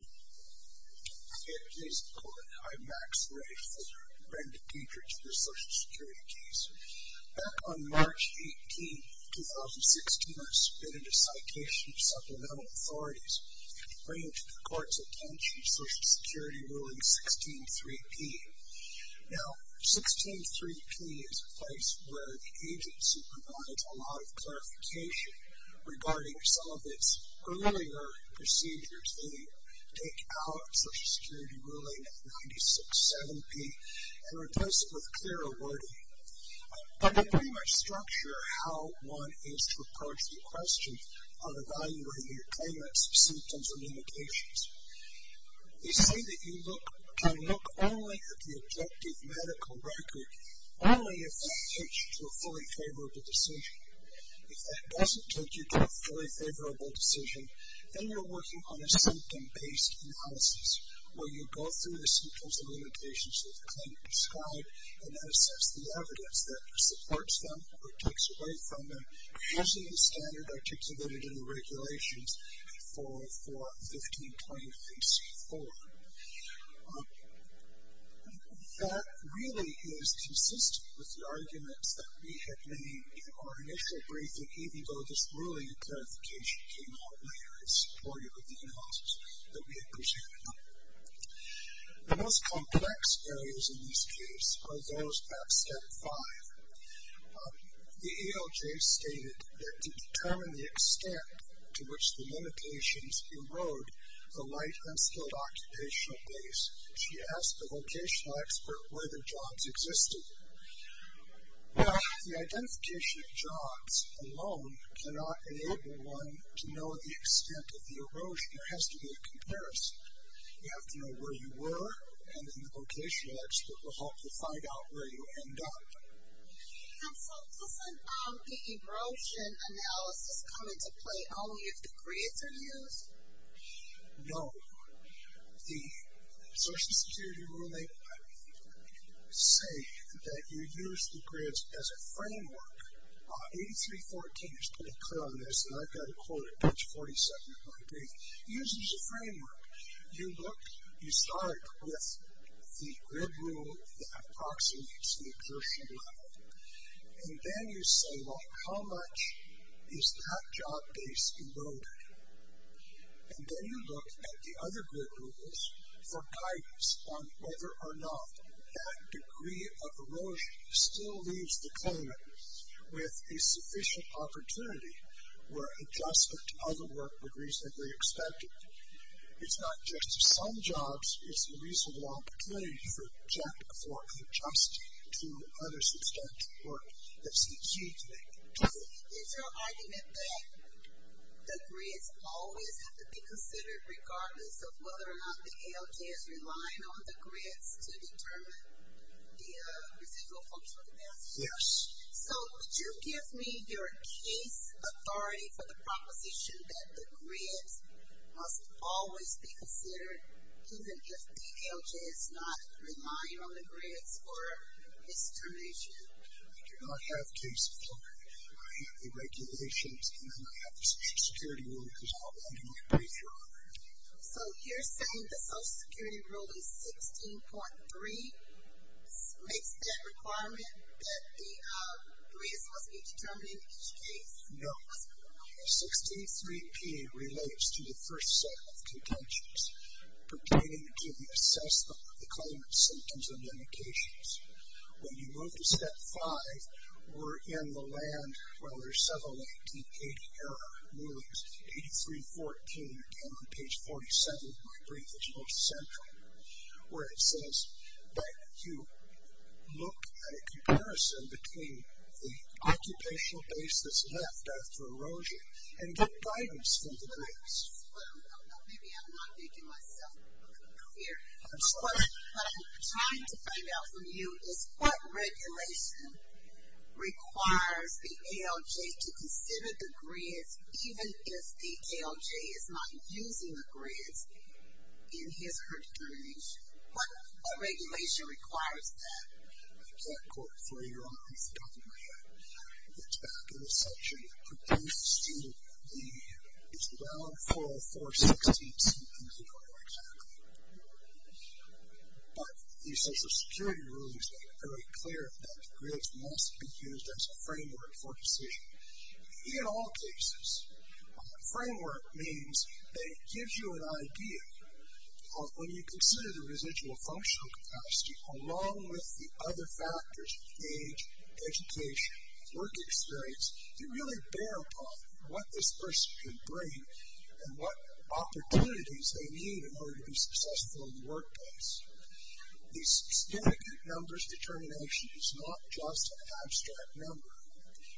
Hi, I'm Max Ray from Brenda Diedrich with a Social Security case. Back on March 18, 2016, I submitted a citation to supplemental authorities, bringing to the Court's attention Social Security Ruling 16-3P. Now, 16-3P is a place where the agency provided a lot of clarification regarding some of its earlier procedures. They take out Social Security Ruling 96-7P and replace it with clearer wording. But they pretty much structure how one is to approach the question on evaluating your claimants' symptoms and indications. They say that you can look only at the objective medical record, only if that leads you to a fully favorable decision. If that doesn't take you to a fully favorable decision, then you're working on a symptom-based analysis, where you go through the symptoms and limitations that the claimant described and assess the evidence that supports them or takes away from them, using the standard articulated in the regulations for 1523C4. That really is consistent with the arguments that we had made in our initial briefing, even though this ruling clarification came out later as supportive of the analysis that we had presented. The most complex areas in this case are those of Step 5. The EOJ stated that to determine the extent to which the limitations erode the light and skilled occupational base, she asked the vocational expert where the jobs existed. Now, the identification of jobs alone cannot enable one to know the extent of the erosion. There has to be a comparison. You have to know where you were, and then the vocational expert will help you find out where you end up. And so doesn't the erosion analysis come into play only if the grids are used? No. The Social Security ruling, I would say that you use the grids as a framework. 8314 is pretty clear on this, and I've got to quote it, page 47 of my brief. It uses a framework. You start with the grid rule that approximates the exertion level, and then you say, well, how much is that job base eroded? And then you look at the other grid rules for guidance on whether or not that degree of erosion still leaves the climate with a sufficient opportunity where adjustment to other work would reasonably expect it. It's not just to some jobs. It's a reasonable opportunity for adjustment to other substantive work. That's the key thing. Is your argument that the grids always have to be considered regardless of whether or not the ALJ is relying on the grids to determine the residual functional capacity? Yes. So would you give me your case authority for the proposition that the grids must always be considered even if the ALJ is not relying on the grids for restoration? I have case authority. I have the regulations, and I have the Social Security rule, because I'm a lending and repaying firm. So you're saying the Social Security rule is 16.3? Makes that requirement that the grids must be determined in each case? No. 16.3p relates to the first set of contentions pertaining to the assessment of the climate symptoms and indications. When you move to step five, we're in the land where there's several 1880-era rulings. 83.14, again on page 47 of my brief, is most central, where it says that you look at a comparison between the occupational basis left after erosion and the guidance from the grids. Maybe I'm not making myself clear. What I'm trying to find out from you is what regulation requires the ALJ to consider the grids even if the ALJ is not using the grids in his or her determination? What regulation requires that? I can't quote for you. You're on. You've forgotten what I had. It's back in the section that pertains to the Island 404-16-2, if you remember exactly. But the Social Security rules make it very clear that grids must be used as a framework for decision. In all cases, framework means that it gives you an idea of when you consider the residual functional capacity along with the other factors of age, education, work experience, you really bear upon what this person can bring and what opportunities they need in order to be successful in the workplace. The significant numbers determination is not just an abstract number.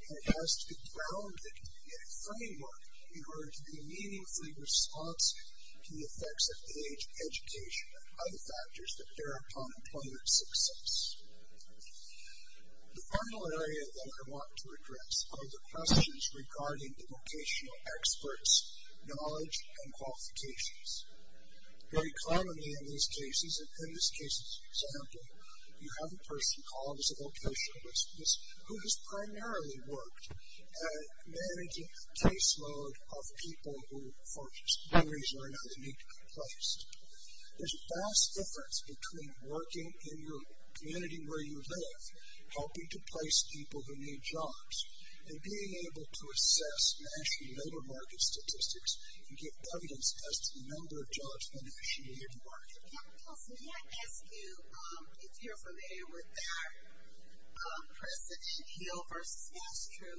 It has to be grounded in a framework in order to be meaningfully responsive to the effects of age, education, and other factors that bear upon employment success. The final area that I want to address are the questions regarding the vocational experts, knowledge, and qualifications. Very commonly in these cases, in this case, for example, you have a person called as a vocationalist who has primarily worked at managing a caseload of people who, for one reason or another, need to be placed. There's a vast difference between working in your community where you live, helping to place people who need jobs, and being able to assess national labor market statistics and get evidence as to the number of jobs in an associated market. Dr. Pills, may I ask you if you're familiar with that precedent, Hill v. Astro?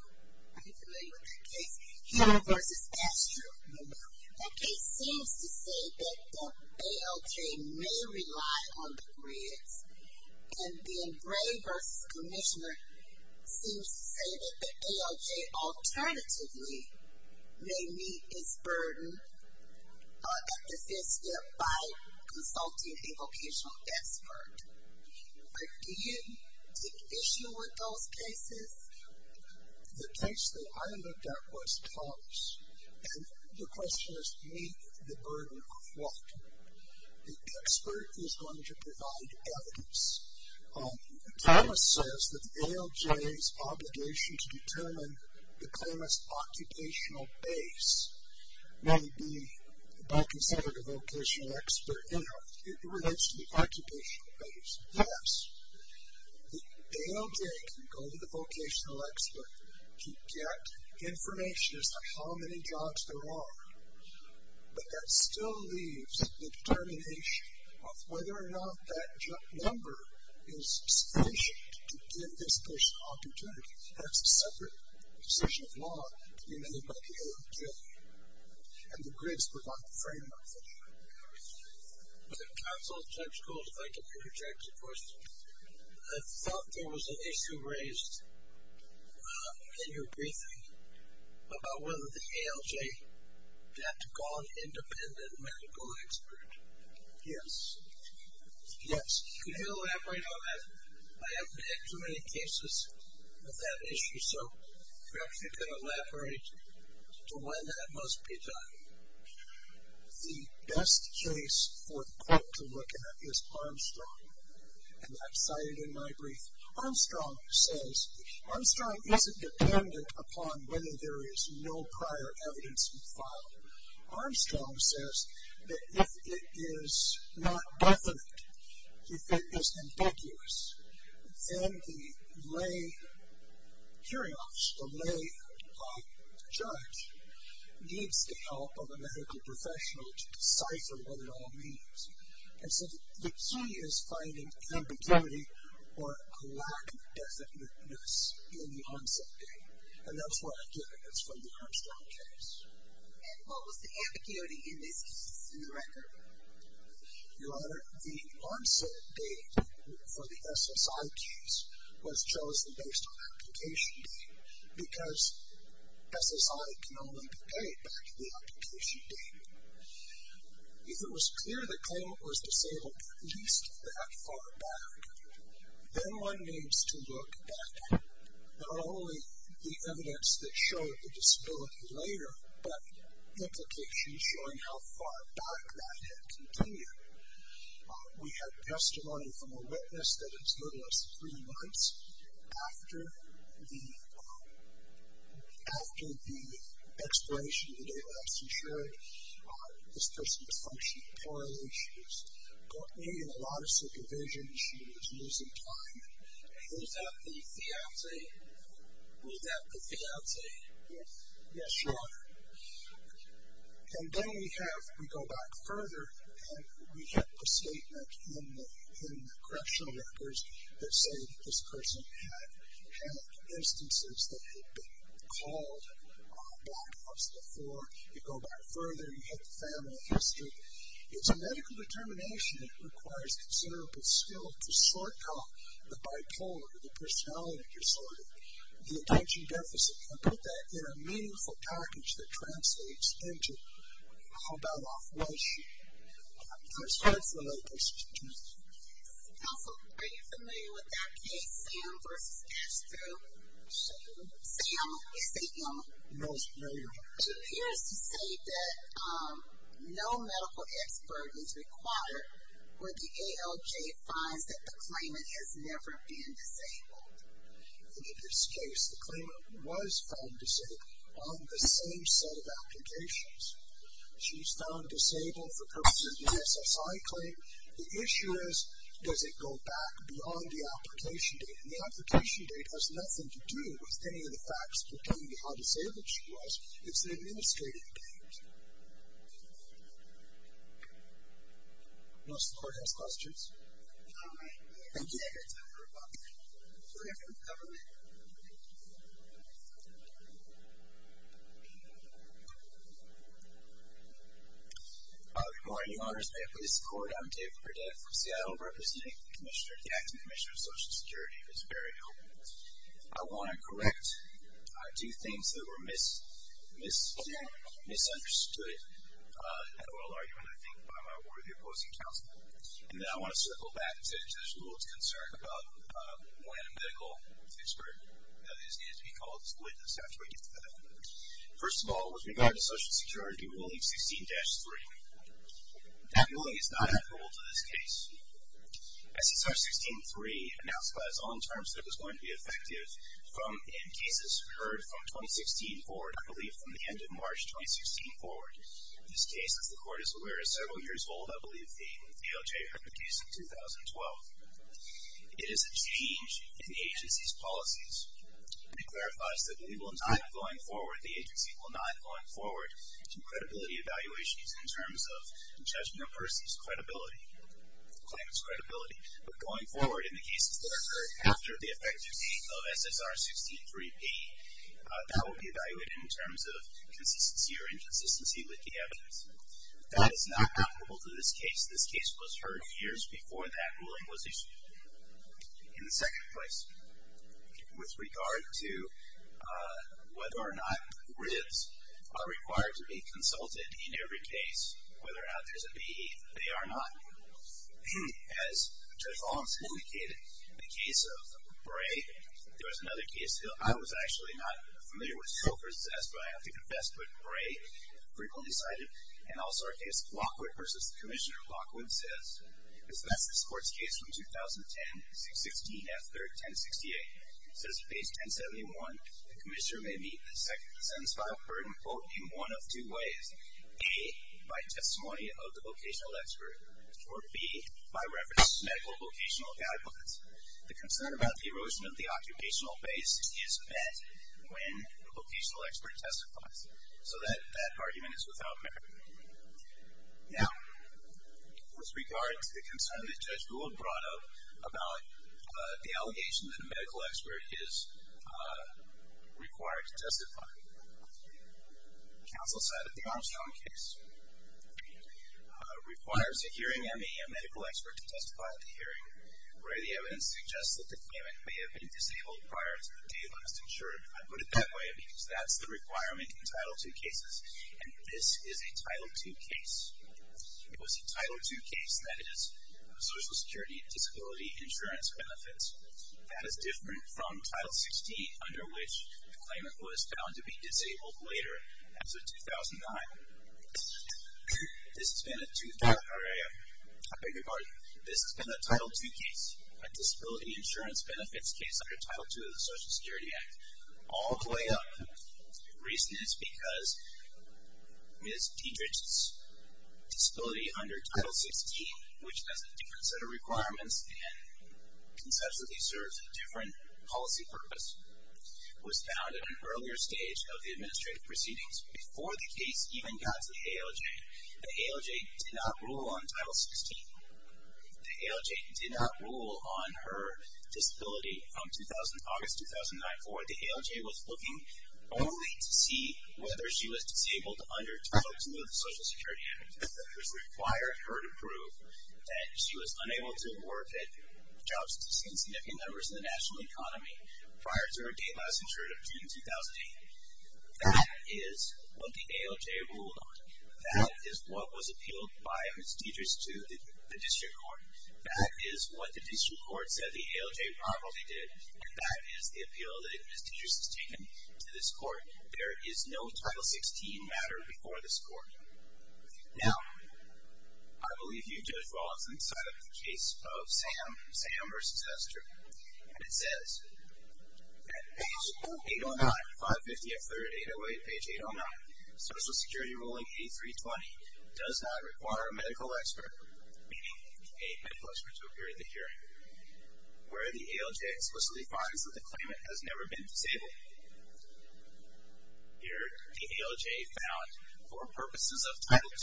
Are you familiar with that case? Hill v. Astro. No, ma'am. That case seems to say that the ALJ may rely on the grids, and then Gray v. Commissioner seems to say that the ALJ alternatively may need to meet its burden by consulting a vocational expert. Do you take issue with those cases? The case that I looked at was Thomas, and the question is, meet the burden of what? The expert is going to provide evidence. Thomas says that the ALJ's obligation to determine the claimant's occupational base may be by consulting a vocational expert in relation to the occupational base. Yes, the ALJ can go to the vocational expert to get information as to how many jobs there are, but that still leaves the determination of whether or not that number is sufficient to give this person opportunity. That's a separate decision of law to be made by the ALJ, and the grids provide the framework for that. Counsel, Judge Gould, if I can interject a question. I thought there was an issue raised in your briefing about whether the ALJ had to call an independent medical expert. Yes. Could you elaborate on that? I haven't had too many cases with that issue, so perhaps you could elaborate to when that must be done. The best case for the court to look at is Armstrong, and that's cited in my brief. Armstrong says Armstrong isn't dependent upon whether there is no prior evidence filed. Armstrong says that if it is not definite, if it is ambiguous, then the lay jury officer, the lay judge, needs the help of a medical professional to decipher what it all means. And so the key is finding ambiguity or a lack of definiteness in the onset date, and that's where I get it. It's from the Armstrong case. And what was the ambiguity in this case? In the record? Your Honor, the onset date for the SSI case was chosen based on application date because SSI can only be carried back to the application date. If it was clear the claimant was disabled at least that far back, then one needs to look at not only the evidence that showed the disability later, but implications showing how far back that had continued. We had testimony from a witness that it took us three months after the expiration of the date that I just ensured this person was functioning poorly. She was going in a lot of circumvisions. She was losing time. Was that the fiancee? Was that the fiancee? Yes, Your Honor. And then we have, we go back further, and we have a statement in the correctional records that say this person had had instances that had been called by an officer before. You go back further, you hit the family history. It's a medical determination that requires considerable skill to sort out the bipolar, the personality disorder, the attention deficit. And put that in a meaningful package that translates into how bad off was she? And it's hard for a medical statistician. Yes. Counsel, are you familiar with that case, Sam versus Castro? Sam. Sam. Is he young? No, he's very young. It appears to say that no medical expert is required when the ALJ finds that the claimant has never been disabled. And in this case, the claimant was found disabled on the same set of applications. She was found disabled for purposes of the SSI claim. The issue is, does it go back beyond the application date? And the application date has nothing to do with any of the facts pertaining to how disabled she was. It's the administrative date. No support, no questions. Do we have time for a comment? Do we have time for a comment? Good morning. Your Honor, if I may please support. I'm David Burdett from Seattle, representing the Acting Commissioner of Social Security. It's very helpful. I want to correct. I do things that were misunderstood in the oral argument, I think, by my worthy opposing counsel. And then I want to circle back to the rule of concern about when a medical expert, that is, needs to be called a witness after we get to that. First of all, with regard to Social Security Ruling 16-3, that ruling is not applicable to this case. SSR 16-3 announced by its own terms that it was going to be effective in cases heard from 2016 forward. I believe from the end of March 2016 forward. In this case, as the Court is aware, is several years old. I believe the DOJ heard the case in 2012. It is a change in the agency's policies. It clarifies that we will not, going forward, the agency will not, going forward, do credibility evaluations in terms of the judgment of a person's credibility, the claimant's credibility. But going forward, in the cases that are heard after the effective date of SSR 16-3P, that will be evaluated in terms of consistency or inconsistency with the evidence. That is not applicable to this case. This case was heard years before that ruling was issued. In second place, with regard to whether or not ribs are required to be consulted in every case, whether or not there's a BE, they are not. As Judge Holmes indicated, in the case of Bray, there was another case. I was actually not familiar with Soakers as to why I have to confess, but Bray frequently cited. And also our case of Lockwood versus the Commissioner of Lockwood says, that's the sports case from 2010, 6-16-F-3-10-68. It says in page 1071, the Commissioner may meet the sentence filed, quote, in one of two ways, A, by testimony of the vocational expert, or B, by reference to medical vocational guidelines. The concern about the erosion of the occupational base is met when the vocational expert testifies. So that argument is without merit. Now, with regard to the concern that Judge Gould brought up about the allegation that a medical expert is required to testify, counsel cited the Armstrong case. Requires a hearing ME, a medical expert, to testify at the hearing. Bray, the evidence suggests that the claimant may have been disabled prior to the date of last insured. I put it that way because that's the requirement in Title II cases, and this is a Title II case. It was a Title II case that is Social Security Disability Insurance Benefits. That is different from Title 16, under which the claimant was found to be disabled later. As of 2009, this has been a Title II case, a Disability Insurance Benefits case under Title II of the Social Security Act. All the way up. The reason is because Ms. Diedrich's disability under Title 16, which has a different set of requirements and conceptually serves a different policy purpose, was found at an earlier stage of the administrative proceedings, before the case even got to the ALJ. The ALJ did not rule on Title 16. The ALJ did not rule on her disability. From August 2009 forward, the ALJ was looking only to see whether she was disabled under Title 16 of the Social Security Act, which required her to prove that she was unable to work at jobs to significant numbers in the national economy prior to her date last insured of June 2008. That is what the ALJ ruled on. That is what was appealed by Ms. Diedrich to the district court. That is what the district court said the ALJ probably did, and that is the appeal that Ms. Diedrich has taken to this court. There is no Title 16 matter before this court. Now, I believe you've judged well on this side of the case of Sam versus Esther, and it says at page 809, 550 F. 3rd, 808, page 809, Social Security ruling 8320 does not require a medical expert, meaning a medical expert to appear at the hearing, where the ALJ explicitly finds that the claimant has never been disabled. Here, the ALJ found for purposes of Title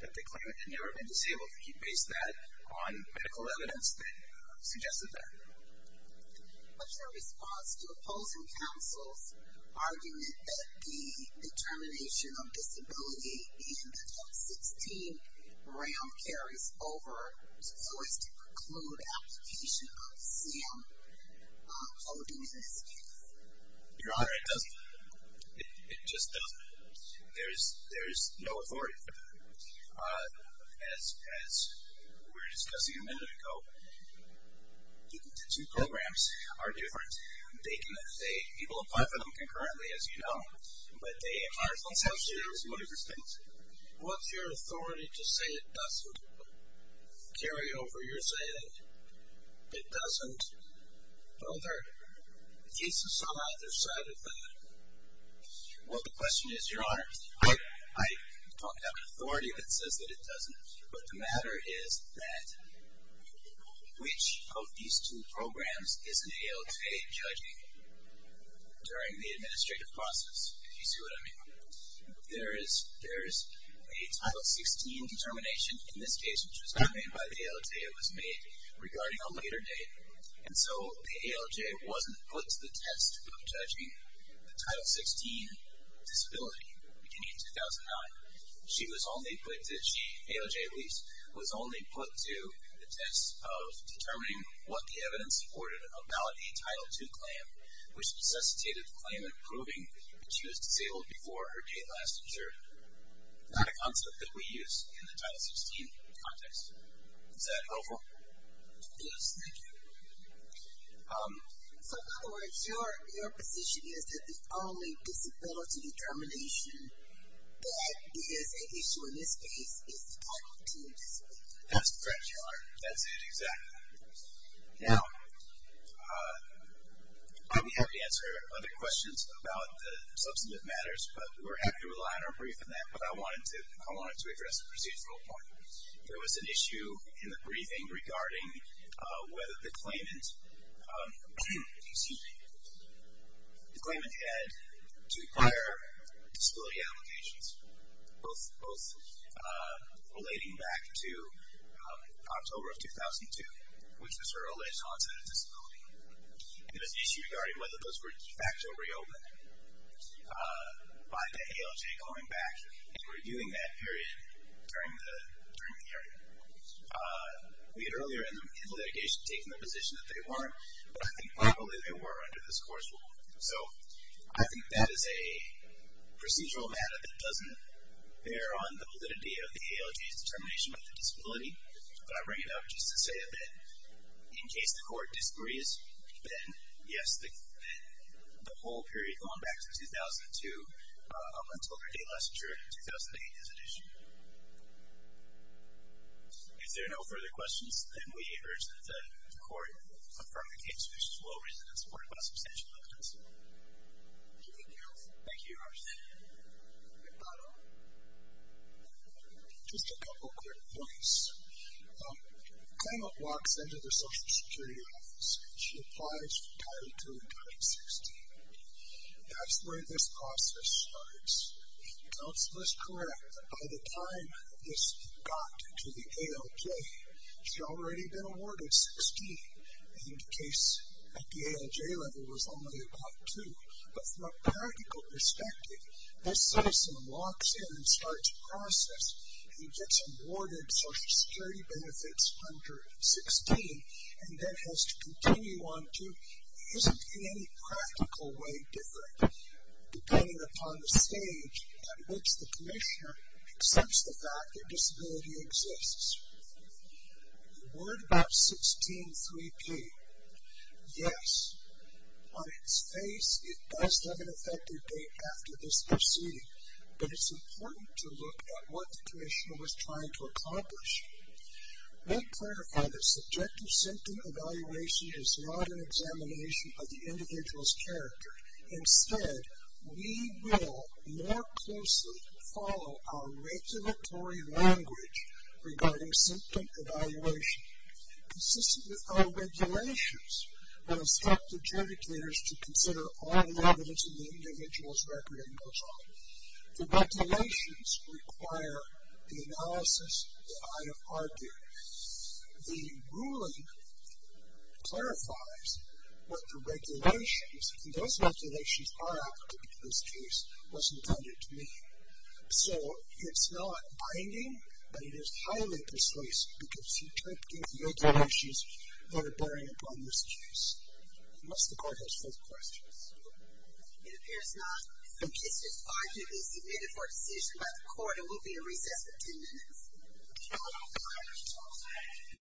2 that the claimant had never been disabled. He based that on medical evidence that suggested that. What's your response to opposing counsel's argument that the determination of disability in the Title 16 round carries over so as to preclude application of Sam voting in this case? Your Honor, it doesn't. It just doesn't. There is no authority for that, as we were discussing a minute ago. Two programs are different. People apply for them concurrently, as you know, but they are different. Let's have a chance to look at this case. What's your authority to say it doesn't carry over? You're saying that it doesn't. Well, there are cases on either side of that. Well, the question is, Your Honor, I talk about authority that says that it doesn't, but the matter is that which of these two programs is an ALJ judging during the administrative process, if you see what I mean. There is a Title 16 determination in this case, which was made by the ALJ. It was made regarding a later date, and so the ALJ wasn't put to the test of judging the Title 16 disability beginning in 2009. She was only put to the test of determining what the evidence supported about a Title 2 claim, which necessitated the claimant proving that she was disabled before her date last observed. Not a concept that we use in the Title 16 context. Is that helpful? Yes, thank you. So, in other words, your position is that the only disability determination that is an issue in this case is the Title 2 disability. That's correct, Your Honor. That's it, exactly. Now, I'd be happy to answer other questions about the substantive matters, but we're happy to rely on our brief on that. But I wanted to address a procedural point. There was an issue in the briefing regarding whether the claimant had two prior disability applications, both relating back to October of 2002, which was her earliest onset of disability. There was an issue regarding whether those were de facto reopened by the ALJ going back and reviewing that period during the hearing. We had earlier in the litigation taken the position that they weren't, but I think probably they were under this court's rule. So I think that is a procedural matter that doesn't bear on the validity of the ALJ's determination of the disability, but I bring it up just to say that in case the court disagrees, then, yes, the whole period going back to 2002 up until her date last year, 2008, is an issue. If there are no further questions, then we urge that the court affirm the case which is well-reasoned and supported by substantial evidence. Thank you. Thank you, Your Honor. Just a couple quick points. The claimant walks into the Social Security office. She applies for Title II Title 16. That's where this process starts. Counsel is correct that by the time this got to the ALJ, she had already been awarded 16, and the case at the ALJ level was only about two. But from a practical perspective, this citizen walks in and starts the process and gets awarded Social Security benefits under 16 and then has to continue on to, isn't in any practical way different, depending upon the stage at which the commissioner accepts the fact that disability exists. You're worried about 16-3P. Yes, on its face, it does have an effective date after this proceeding, but it's important to look at what the commissioner was trying to accomplish. Let clarified that subjective symptom evaluation is not an examination of the individual's character. Instead, we will more closely follow our regulatory language regarding symptom evaluation. Consistent with our regulations, I would expect the judicators to consider all the evidence in the individual's record at no time. The regulations require the analysis that I have argued. The ruling clarifies what the regulations, and those regulations are active in this case, was intended to mean. So it's not binding, but it is highly persuasive because you don't get the other issues that are bearing upon this case. Unless the court has further questions. It appears not. The petition's argument is submitted for a decision by the court and will be in recess for 10 minutes. Thank you.